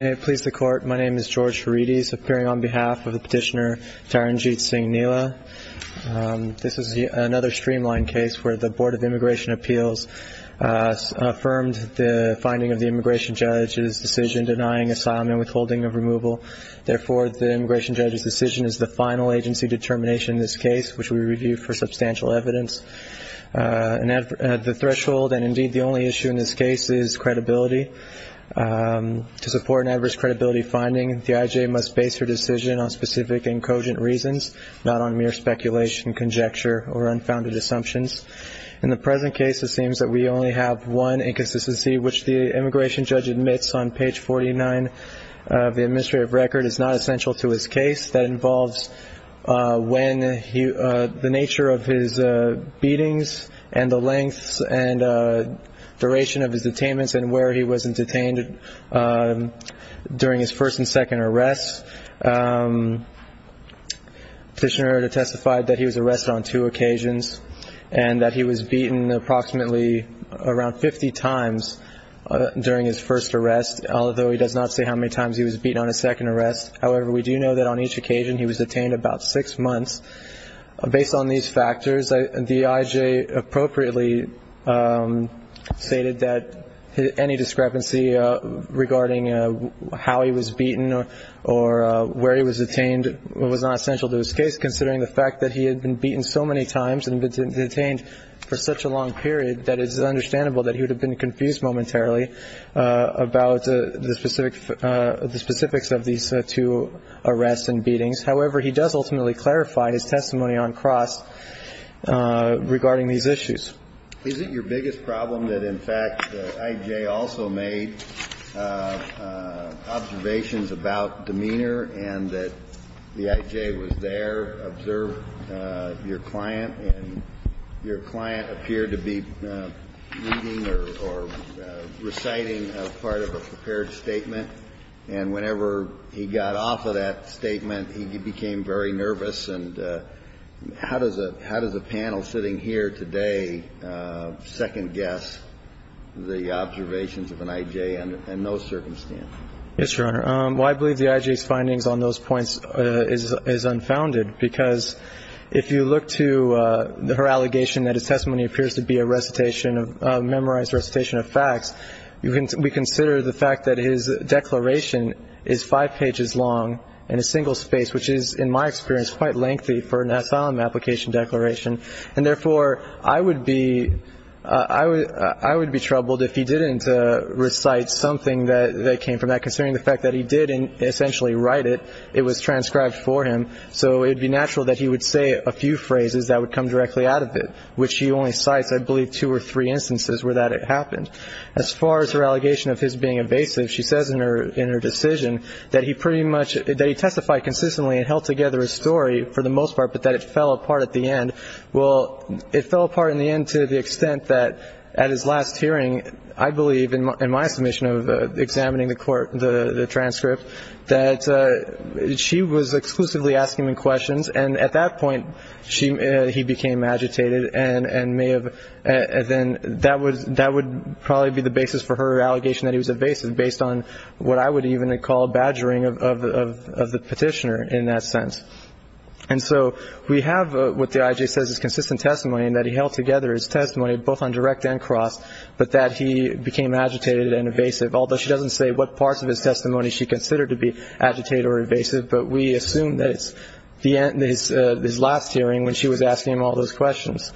May it please the Court, my name is George Haridis, appearing on behalf of Petitioner Taranjeet Singh Neela. This is another streamlined case where the Board of Immigration Appeals affirmed the finding of the Immigration Judge's decision denying asylum and withholding of removal. Therefore, the Immigration Judge's decision is the final agency determination in this case, which we review for substantial evidence. The threshold, and indeed the only issue in this case, is credibility. To support an adverse credibility finding, the I.J. must base her decision on specific and cogent reasons, not on mere speculation, conjecture, or unfounded assumptions. In the present case, it seems that we only have one inconsistency, which the Immigration Judge admits on page 49 of the administrative record is not essential to his detainments and where he was detained during his first and second arrests. Petitioner testified that he was arrested on two occasions and that he was beaten approximately around 50 times during his first arrest, although he does not say how many times he was beaten on his second arrest. However, we do know that on each occasion he was detained about six months. Based on these factors, the I.J. appropriately stated that any discrepancy regarding how he was beaten or where he was detained was not essential to his case, considering the fact that he had been beaten so many times and had been detained for such a long period that it is understandable that he would have been confused momentarily about the specifics of these two arrests and that he would not have been able to provide his testimony on cross regarding these issues. Is it your biggest problem that, in fact, the I.J. also made observations about demeanor and that the I.J. was there, observed your client, and your client appeared to be reading or reciting a part of a prepared statement, and whenever he got off of that statement, he became very nervous and how does a panel sitting here today second guess the observations of an I.J. and those circumstances? Yes, Your Honor. Well, I believe the I.J.'s findings on those points is unfounded because if you look to her allegation that his testimony appears to be a recitation, a memorized recitation of facts, we consider the fact that his declaration is five pages long and a single space, which is, in my experience, quite lengthy for an asylum application declaration. And therefore, I would be troubled if he didn't recite something that came from that considering the fact that he did essentially write it, it was transcribed for him, so it would be natural that he would say a few phrases that would come directly out of it, which he only cites, I believe, two or three instances where that happened. As far as her allegation of his being evasive, she says in her decision that he pretty much testified consistently and held together a story for the most part, but that it fell apart at the end. Well, it fell apart in the end to the extent that at his last hearing, I believe, in my submission of examining the court, the transcript, that she was exclusively asking him questions. And at that point, he became agitated and may have then that would probably be the basis for her allegation that he was evasive based on what I would even call badgering of the petitioner in that sense. And so we have what the IJ says is consistent testimony in that he held together his testimony both on direct and cross, but that he became agitated and evasive, although she doesn't say what parts of his testimony she considered to be agitated or evasive, but we assume that it's his last hearing when she was asking him all those questions.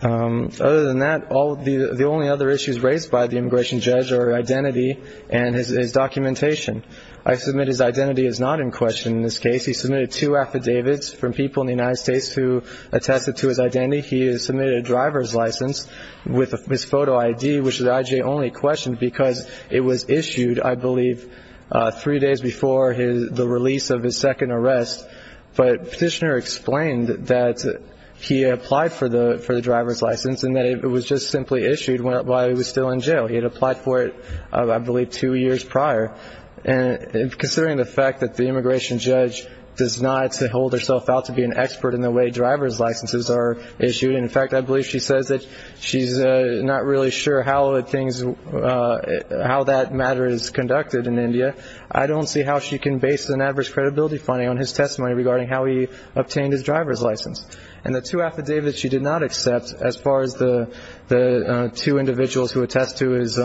Other than that, the only other issues raised by the immigration judge are identity and his documentation. I submit his identity is not in question in this case. He submitted two affidavits from people in the United States who attested to his identity. He has submitted a driver's license with his photo ID, which the IJ only questioned because it was issued, I believe, three days the release of his second arrest. But petitioner explained that he applied for the driver's license and that it was just simply issued while he was still in jail. He had applied for it, I believe, two years prior. And considering the fact that the immigration judge does not hold herself out to be an expert in the way driver's licenses are issued, and in fact, I believe she says that she's not really sure how that matter is conducted in India, I don't see how she can base an adverse credibility finding on his testimony regarding how he obtained his driver's license. And the two affidavits she did not accept as far as the two individuals who attest to his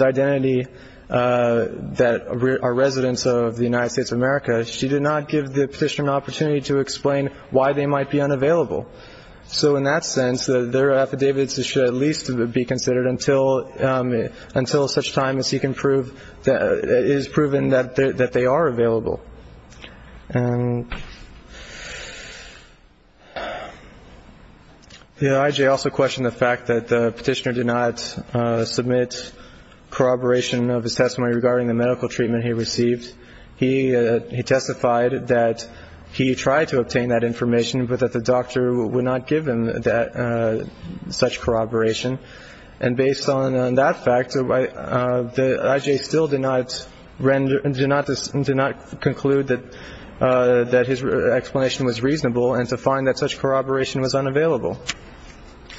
identity that are residents of the United States of America, she did not give the petitioner an So in that sense, their affidavits should at least be considered until such time as he can prove that it is proven that they are available. The IJ also questioned the fact that the petitioner did not submit corroboration of his testimony regarding the medical treatment he received. He testified that he tried to obtain that information, but that the doctor would not give him such corroboration. And based on that fact, the IJ still did not conclude that his explanation was reasonable and to find that such corroboration was unavailable.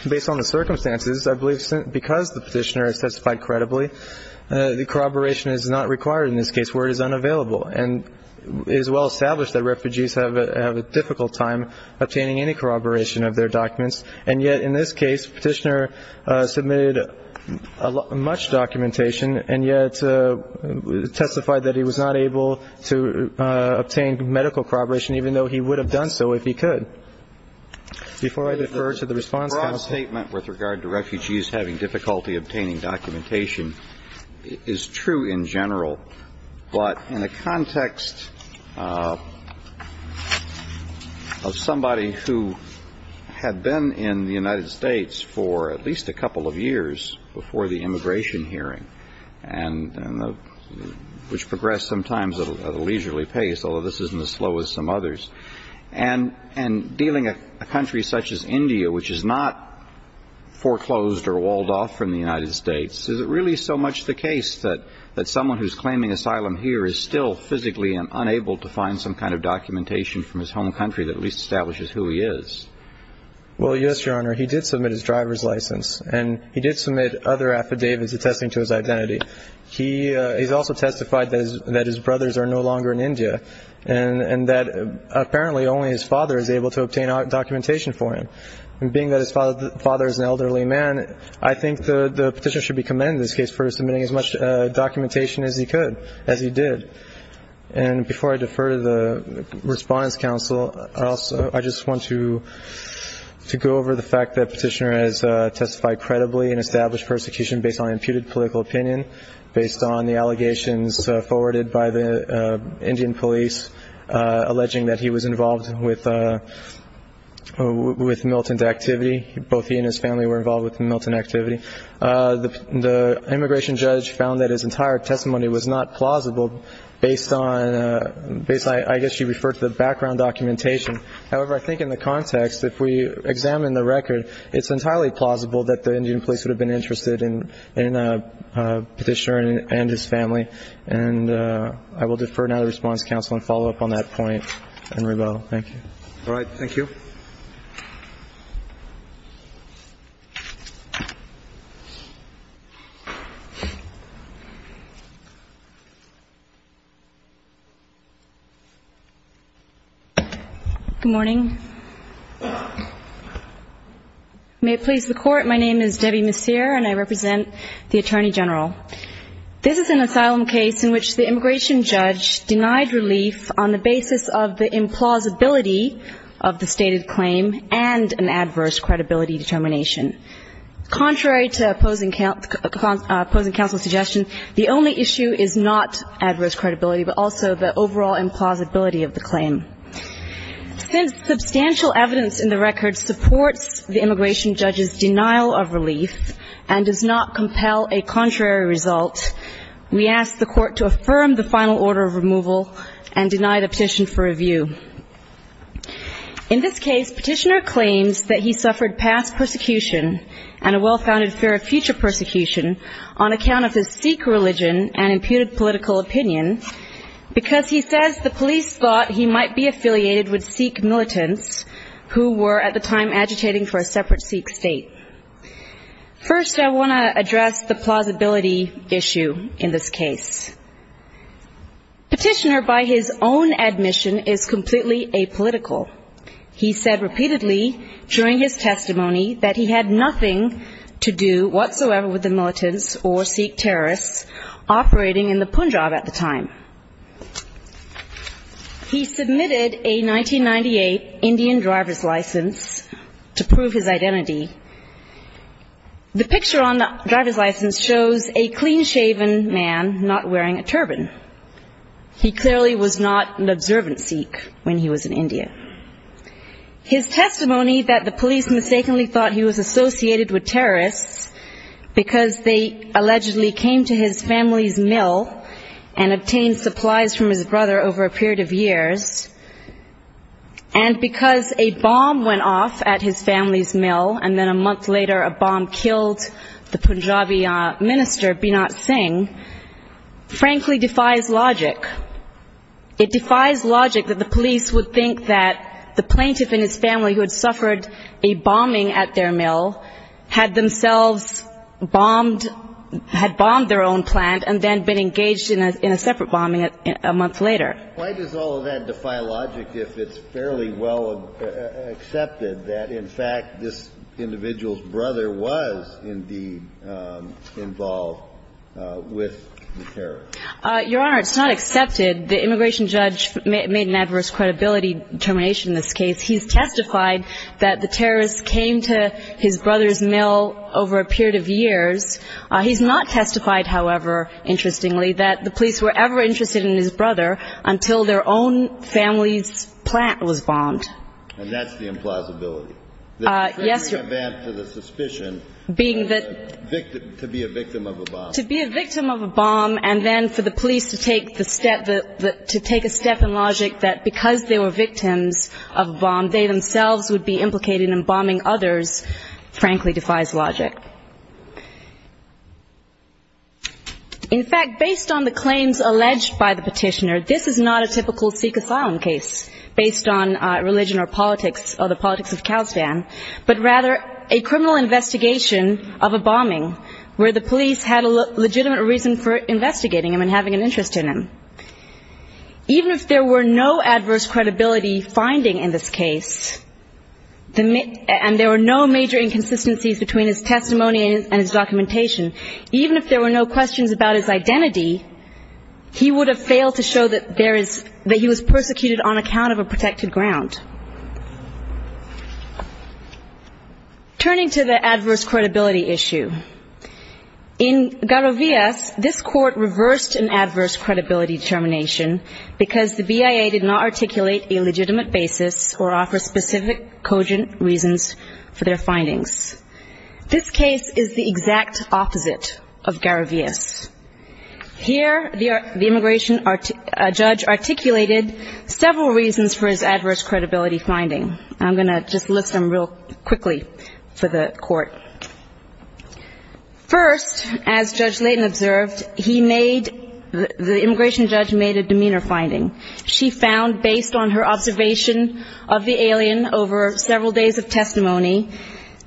Based on the circumstances, I believe because the petitioner testified credibly, the corroboration is not required in this case where it is unavailable and it is well established that refugees have a difficult time obtaining any corroboration of their documents. And yet in this case, the petitioner submitted much documentation and yet testified that he was not able to obtain medical corroboration, even though he would have done so if he could. Before I defer to the response counsel. The broad statement with regard to refugees having difficulty obtaining documentation is true in general, but in the context of somebody who had been in the United States for at least a couple of years before the immigration hearing and which progressed sometimes at a leisurely pace, although this isn't as slow as some others, and dealing with a country such as India, which is not foreclosed or walled off from the United States, is it really so much the case that someone who is claiming asylum here is still physically unable to find some kind of documentation from his home country that at least establishes who he is? Well, yes, Your Honor. He did submit his driver's license and he did submit other affidavits attesting to his identity. He has also testified that his brothers are no longer in India and that apparently only his father is able to obtain documentation for him. And being that his father is an elderly man, I think the petitioner should be commended in this case for submitting as much documentation as he could, as he did. And before I defer to the response counsel, I just want to go over the fact that petitioner has testified credibly and established persecution based on imputed political opinion, based on the allegations forwarded by the Indian police alleging that he was involved with Milton's activity. Both he and his family were involved with the Milton activity. The immigration judge found that his entire testimony was not plausible based on, I guess you refer to the background documentation. However, I think in the context, if we examine the record, it's entirely plausible that the Indian police would have been interested in the petitioner and his family. And I will defer now to the response counsel and follow up on that point, and rebuttal. Thank you. All right. Thank you. Good morning. May it please the Court. My name is Debbie Messier, and I represent the Attorney General. This is an asylum case in which the immigration judge denied relief on the basis of the implausibility of the stated claim and an adverse credibility determination. Contrary to opposing counsel's suggestion, the only issue is not adverse credibility, but also the overall implausibility of the claim. Since the petitioner's testimony in the record supports the immigration judge's denial of relief and does not compel a contrary result, we ask the Court to affirm the final order of removal and deny the petition for review. In this case, petitioner claims that he suffered past persecution and a well-founded fear of future persecution on account of his Sikh religion and imputed political opinion because he says the who were at the time agitating for a separate Sikh state. First, I want to address the plausibility issue in this case. Petitioner, by his own admission, is completely apolitical. He said repeatedly during his testimony that he had nothing to do whatsoever with the militants or Sikh terrorists operating in the Punjab at the time. He submitted a 1998 Indian driver's license to prove his identity. The picture on the driver's license shows a clean-shaven man not wearing a turban. He clearly was not an observant Sikh when he was in India. His testimony that the police mistakenly thought he was associated with terrorists because they allegedly came to his family's mill and obtained a copy of the supplies from his brother over a period of years and because a bomb went off at his family's mill and then a month later a bomb killed the Punjabi minister, B. Nath Singh, frankly defies logic. It defies logic that the police would think that the plaintiff and his family who had suffered a bombing at their mill had themselves bombed, had bombed their own plant and then been engaged in a separate bombing a month later. Why does all of that defy logic if it's fairly well accepted that in fact this individual's brother was indeed involved with the terrorists? Your Honor, it's not accepted. The immigration judge made an adverse credibility determination in this case. He's testified that the terrorists came to his brother's mill over a period of years. He's not testified, however, interestingly, that the police were ever interested in his brother until their own family's plant was bombed. And that's the implausibility? Yes, Your Honor. That's the suspicion of being a victim of a bomb. To be a victim of a bomb and then for the police to take a step in logic that because they were victims of a bomb they themselves would be involved. In fact, based on the claims alleged by the petitioner, this is not a typical Sikh asylum case based on religion or politics or the politics of Kazakhstan, but rather a criminal investigation of a bombing where the police had a legitimate reason for investigating him and having an interest in him. Even if there were no adverse credibility finding in this case and there were no major inconsistencies between his testimony and his documentation, even if there were no questions about his identity, he would have failed to show that he was persecuted on account of a protected ground. Turning to the adverse credibility issue, in Garovias, this court reversed an adverse credibility determination because the BIA did not articulate a legitimate basis or offer cogent reasons for their findings. This case is the exact opposite of Garovias. Here the immigration judge articulated several reasons for his adverse credibility finding. I'm going to just list them real quickly for the court. First, as Judge Layton observed, the immigration judge made a demeanor finding. She found, based on her observation of the alien over several days of testimony,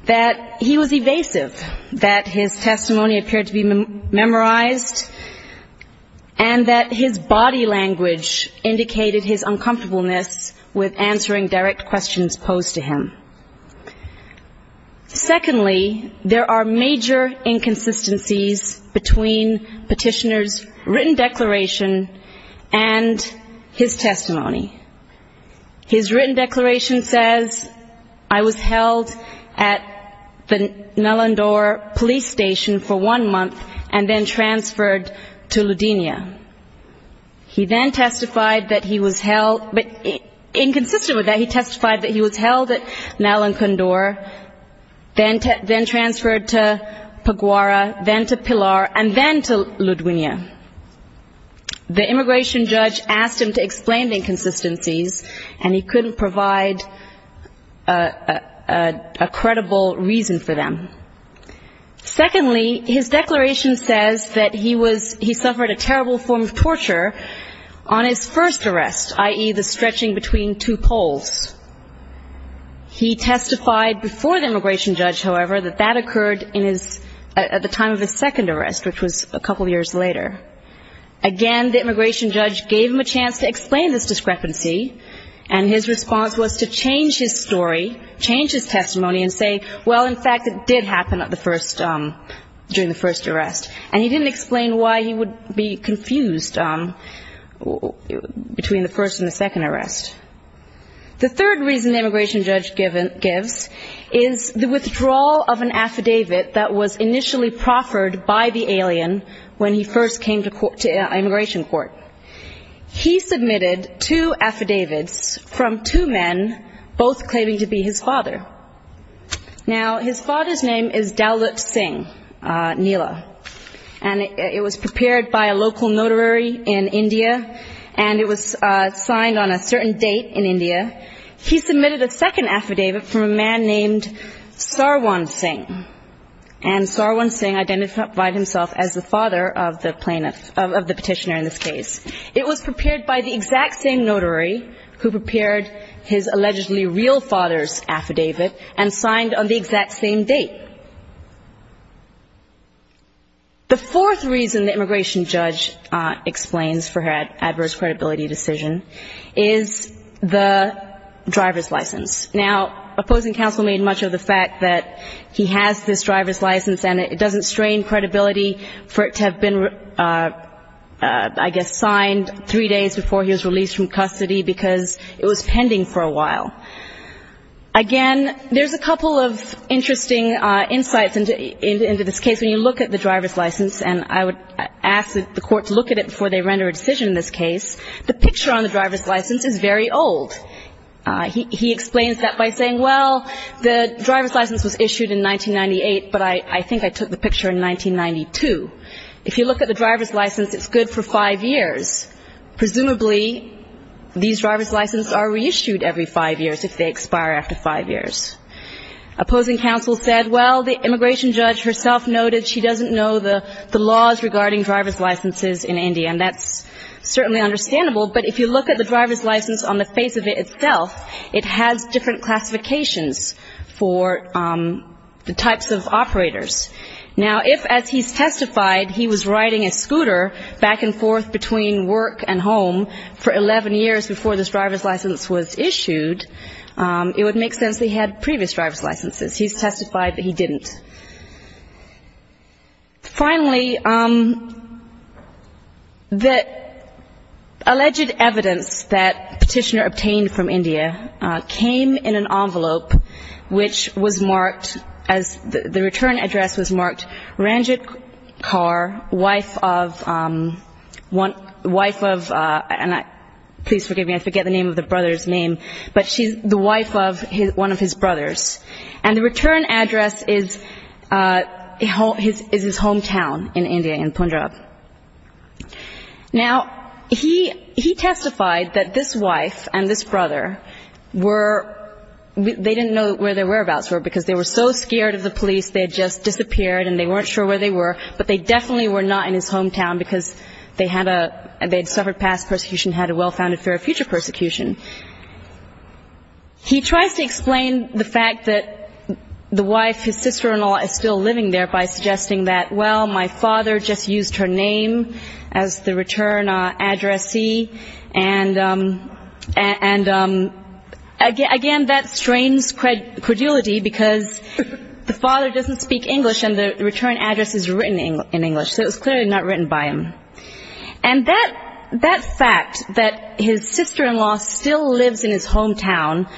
that he was evasive, that his testimony appeared to be memorized, and that his body language indicated his uncomfortableness with answering direct questions posed to him. Secondly, there are major inconsistencies between petitioner's written declaration and his testimony. His written declaration says, I was held at the Nalandor police station for one month and then transferred to Ludinia. He then testified that he was held, but inconsistent with that, he testified that he was held at Nalandor, then transferred to Paguara, then to Pilar, and then to Ludinia. The immigration judge asked him to explain the inconsistencies, and he couldn't provide a credible reason for them. Secondly, his declaration says that he was, he suffered a terrible form of torture on his first arrest, i.e. the stretching between two poles. He testified before the immigration judge, however, that that occurred in his, at the time of his second arrest, which was a couple years later. Again, the immigration judge gave him a chance to explain this discrepancy, and his response was to change his story, change his testimony, and say, well, in fact, it did happen at the first, during the first arrest. And he didn't explain why he would be confused between the first and the second arrest. The third reason the immigration judge gives is the withdrawal of an affidavit that was initially proffered by the alien when he first came to immigration court. He submitted two affidavits from two men, both claiming to be his father. Now, his father's name is Dalit Singh Nila, and it was prepared by a local notary in India, and it was signed on a certain date in India. He submitted a second affidavit from a man named Sarwan Singh, and Sarwan Singh identified himself as the father of the plaintiff, of the petitioner in this case. It was prepared by the exact same notary who prepared his allegedly real father's affidavit and signed on the exact same date. The fourth reason the immigration judge explains for her adverse credibility decision is the driver's license. Now, opposing counsel made much of the fact that he has this driver's license, and it doesn't strain credibility for it to have been, I guess, signed three days before he was released from custody because it was pending for a while. Again, there's a couple of interesting insights into this case. When you look at the driver's license, and I would ask the court to look at it before they render a decision in this case, the picture on the driver's license is very old. He explains that by saying, well, the driver's license was issued in 1998, but I think I took the picture in 1992. If you look at the driver's license, it's good for five years. Presumably, these driver's licenses are reissued every five years if they expire after five years. Opposing counsel said, well, the immigration judge herself noted she doesn't know the laws regarding driver's licenses in India, and that's certainly understandable. But if you look at the driver's license on the face of it itself, it has different classifications for the types of operators. Now, if, as he's testified, he was riding a scooter back and forth between work and home for 11 years before this driver's license was issued, it would make sense he had previous driver's licenses. He's testified that he didn't. Finally, the alleged evidence that Petitioner obtained from India came in an envelope, which was please forgive me, I forget the name of the brother's name, but she's the wife of one of his brothers. And the return address is his hometown in India, in Punjab. Now, he testified that this wife and this brother were, they didn't know where their whereabouts were because they were so scared of the police, they had just disappeared and they weren't sure where they were, but they definitely were not in his hometown because they had suffered past persecution, had a well-founded fear of future persecution. He tries to explain the fact that the wife, his sister-in-law, is still living there by suggesting that, well, my father just used her name as the return addressee. And again, that strains credulity because the father doesn't speak English and the return address is written in English, so it's clearly not written by him. And that fact that his sister-in-law still lives in his hometown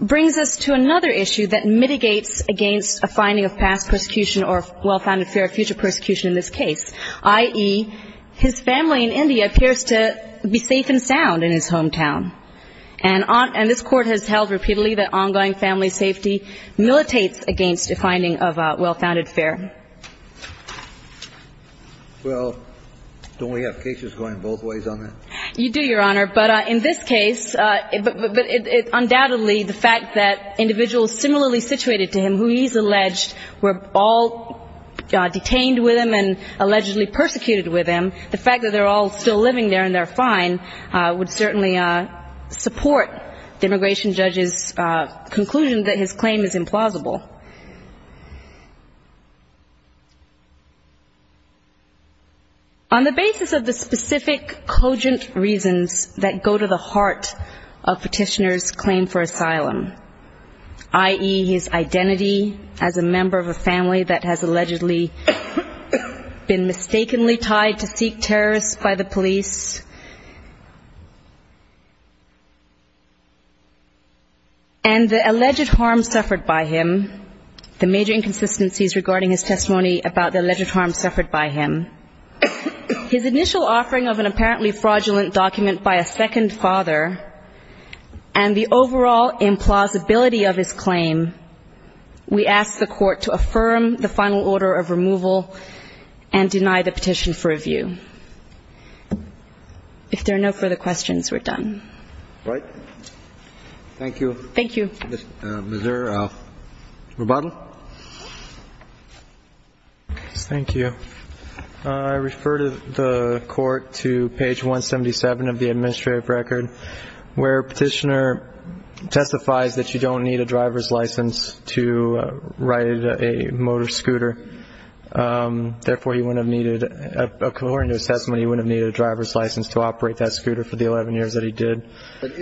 brings us to another issue that mitigates against a finding of past persecution or well-founded fear of future persecution in this case, i.e., his family in India appears to be safe and sound in his hometown. And this Court has held repeatedly that militates against a finding of well-founded fear. Well, don't we have cases going both ways on that? You do, Your Honor. But in this case, undoubtedly the fact that individuals similarly situated to him who he's alleged were all detained with him and allegedly persecuted with him, the fact that they're all still living there and they're fine would certainly support the immigration judge's conclusion that his claim is implausible. On the basis of the specific, cogent reasons that go to the heart of petitioner's claim for asylum, i.e. his identity as a member of a family that has allegedly been mistakenly tied to seek terrorists by the police and the alleged harm suffered by him, the major inconsistencies regarding his testimony about the alleged harm suffered by him, his initial offering of an apparently fraudulent document by a second father and the overall implausibility of his claim, we ask the court to affirm the final order of removal and deny the petition for if there are no further questions, we're done. Right. Thank you. Thank you. Mr. Roboto? Thank you. I refer to the court to page 177 of the administrative record where petitioner testifies that you don't need a driver's license to operate that scooter for the 11 years that he did. But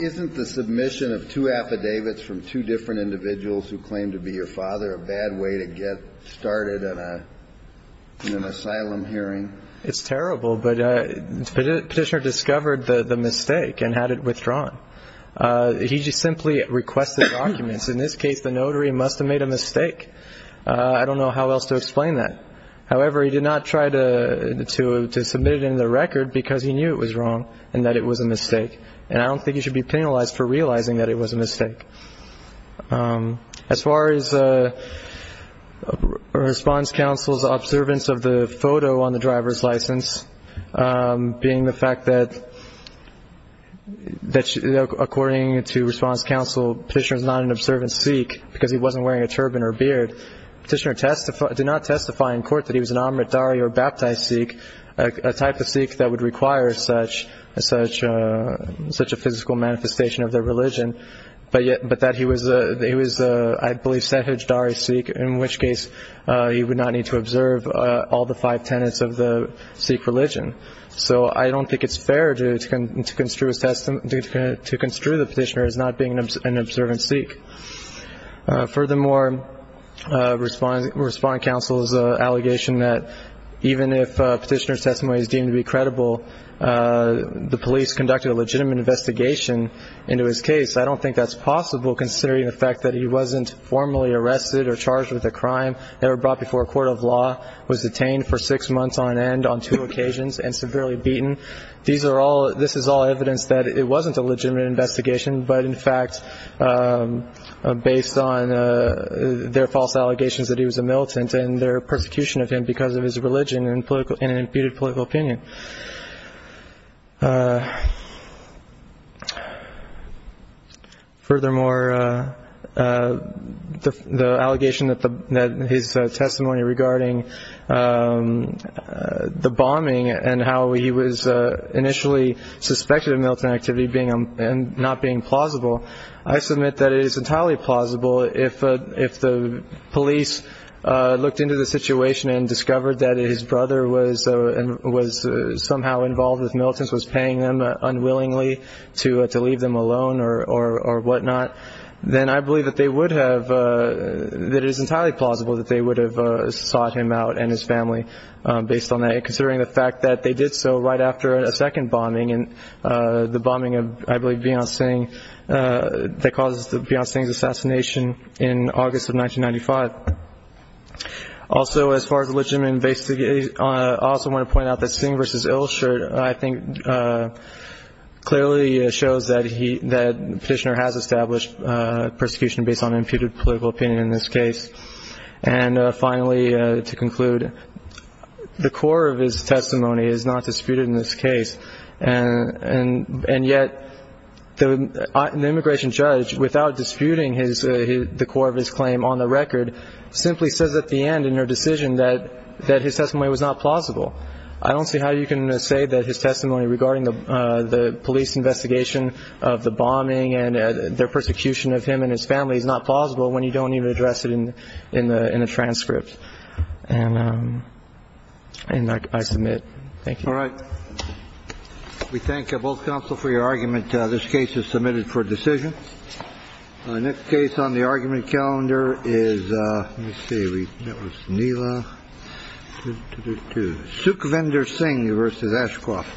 isn't the submission of two affidavits from two different individuals who claim to be your father a bad way to get started in an asylum hearing? It's terrible, but petitioner discovered the mistake and had it withdrawn. He just simply requested documents. In this case, the notary must have made a mistake. I don't know how else to explain that. However, he did not try to submit it in the record because he knew it was wrong and that it was a mistake. And I don't think he should be penalized for realizing that it was a mistake. As far as Response Council's observance of the photo on the driver's license, being the fact that according to Response Council, petitioner is not an observant Sikh because he wasn't wearing a turban or a beard. Petitioner did not testify in court that he was an amritdhari or baptized Sikh, a type of Sikh that would require such a such a physical manifestation of their religion. But yet, but that he was a he was, I believe, sehijdhari Sikh, in which case he would not need to observe all the five tenets of the Sikh religion. So I don't think it's fair to construe the petitioner as not being an observant Sikh. Furthermore, Response Council's allegation that even if a petitioner's testimony is deemed to be credible, the police conducted a legitimate investigation into his case. I don't think that's possible, considering the fact that he wasn't formally arrested or charged with a crime, never brought before a court of law, was detained for six months on end on two occasions and severely beaten. These are all this is all evidence that it wasn't a legitimate investigation, but in fact, based on their false allegations that he was a militant and their persecution of him because of his religion and political and imputed his testimony regarding the bombing and how he was initially suspected of militant activity being and not being plausible. I submit that it is entirely plausible if if the police looked into the situation and discovered that his brother was and was somehow involved with militants, was paying them unwillingly to to leave them alone or whatnot, then I believe that they would have that is entirely plausible that they would have sought him out and his family based on that, considering the fact that they did so right after a second bombing and the bombing of, I believe, Beyonce that caused the assassination in August of 1995. Also, as far as legitimate investigation, I also want to point out that Singh v. Persecution based on imputed political opinion in this case. And finally, to conclude, the core of his testimony is not disputed in this case. And and and yet the immigration judge, without disputing his the core of his claim on the record, simply says at the end in her decision that that his testimony was not plausible. I don't see how you can say that his testimony regarding the police investigation of the bombing and their persecution of him and his family is not plausible when you don't even address it in in the transcript. And I submit. Thank you. All right. We thank both counsel for your argument. This case is submitted for decision on this case. On the argument. Calendar is, let's see. That was Nila to Sukhavendor Singh versus Ashcroft.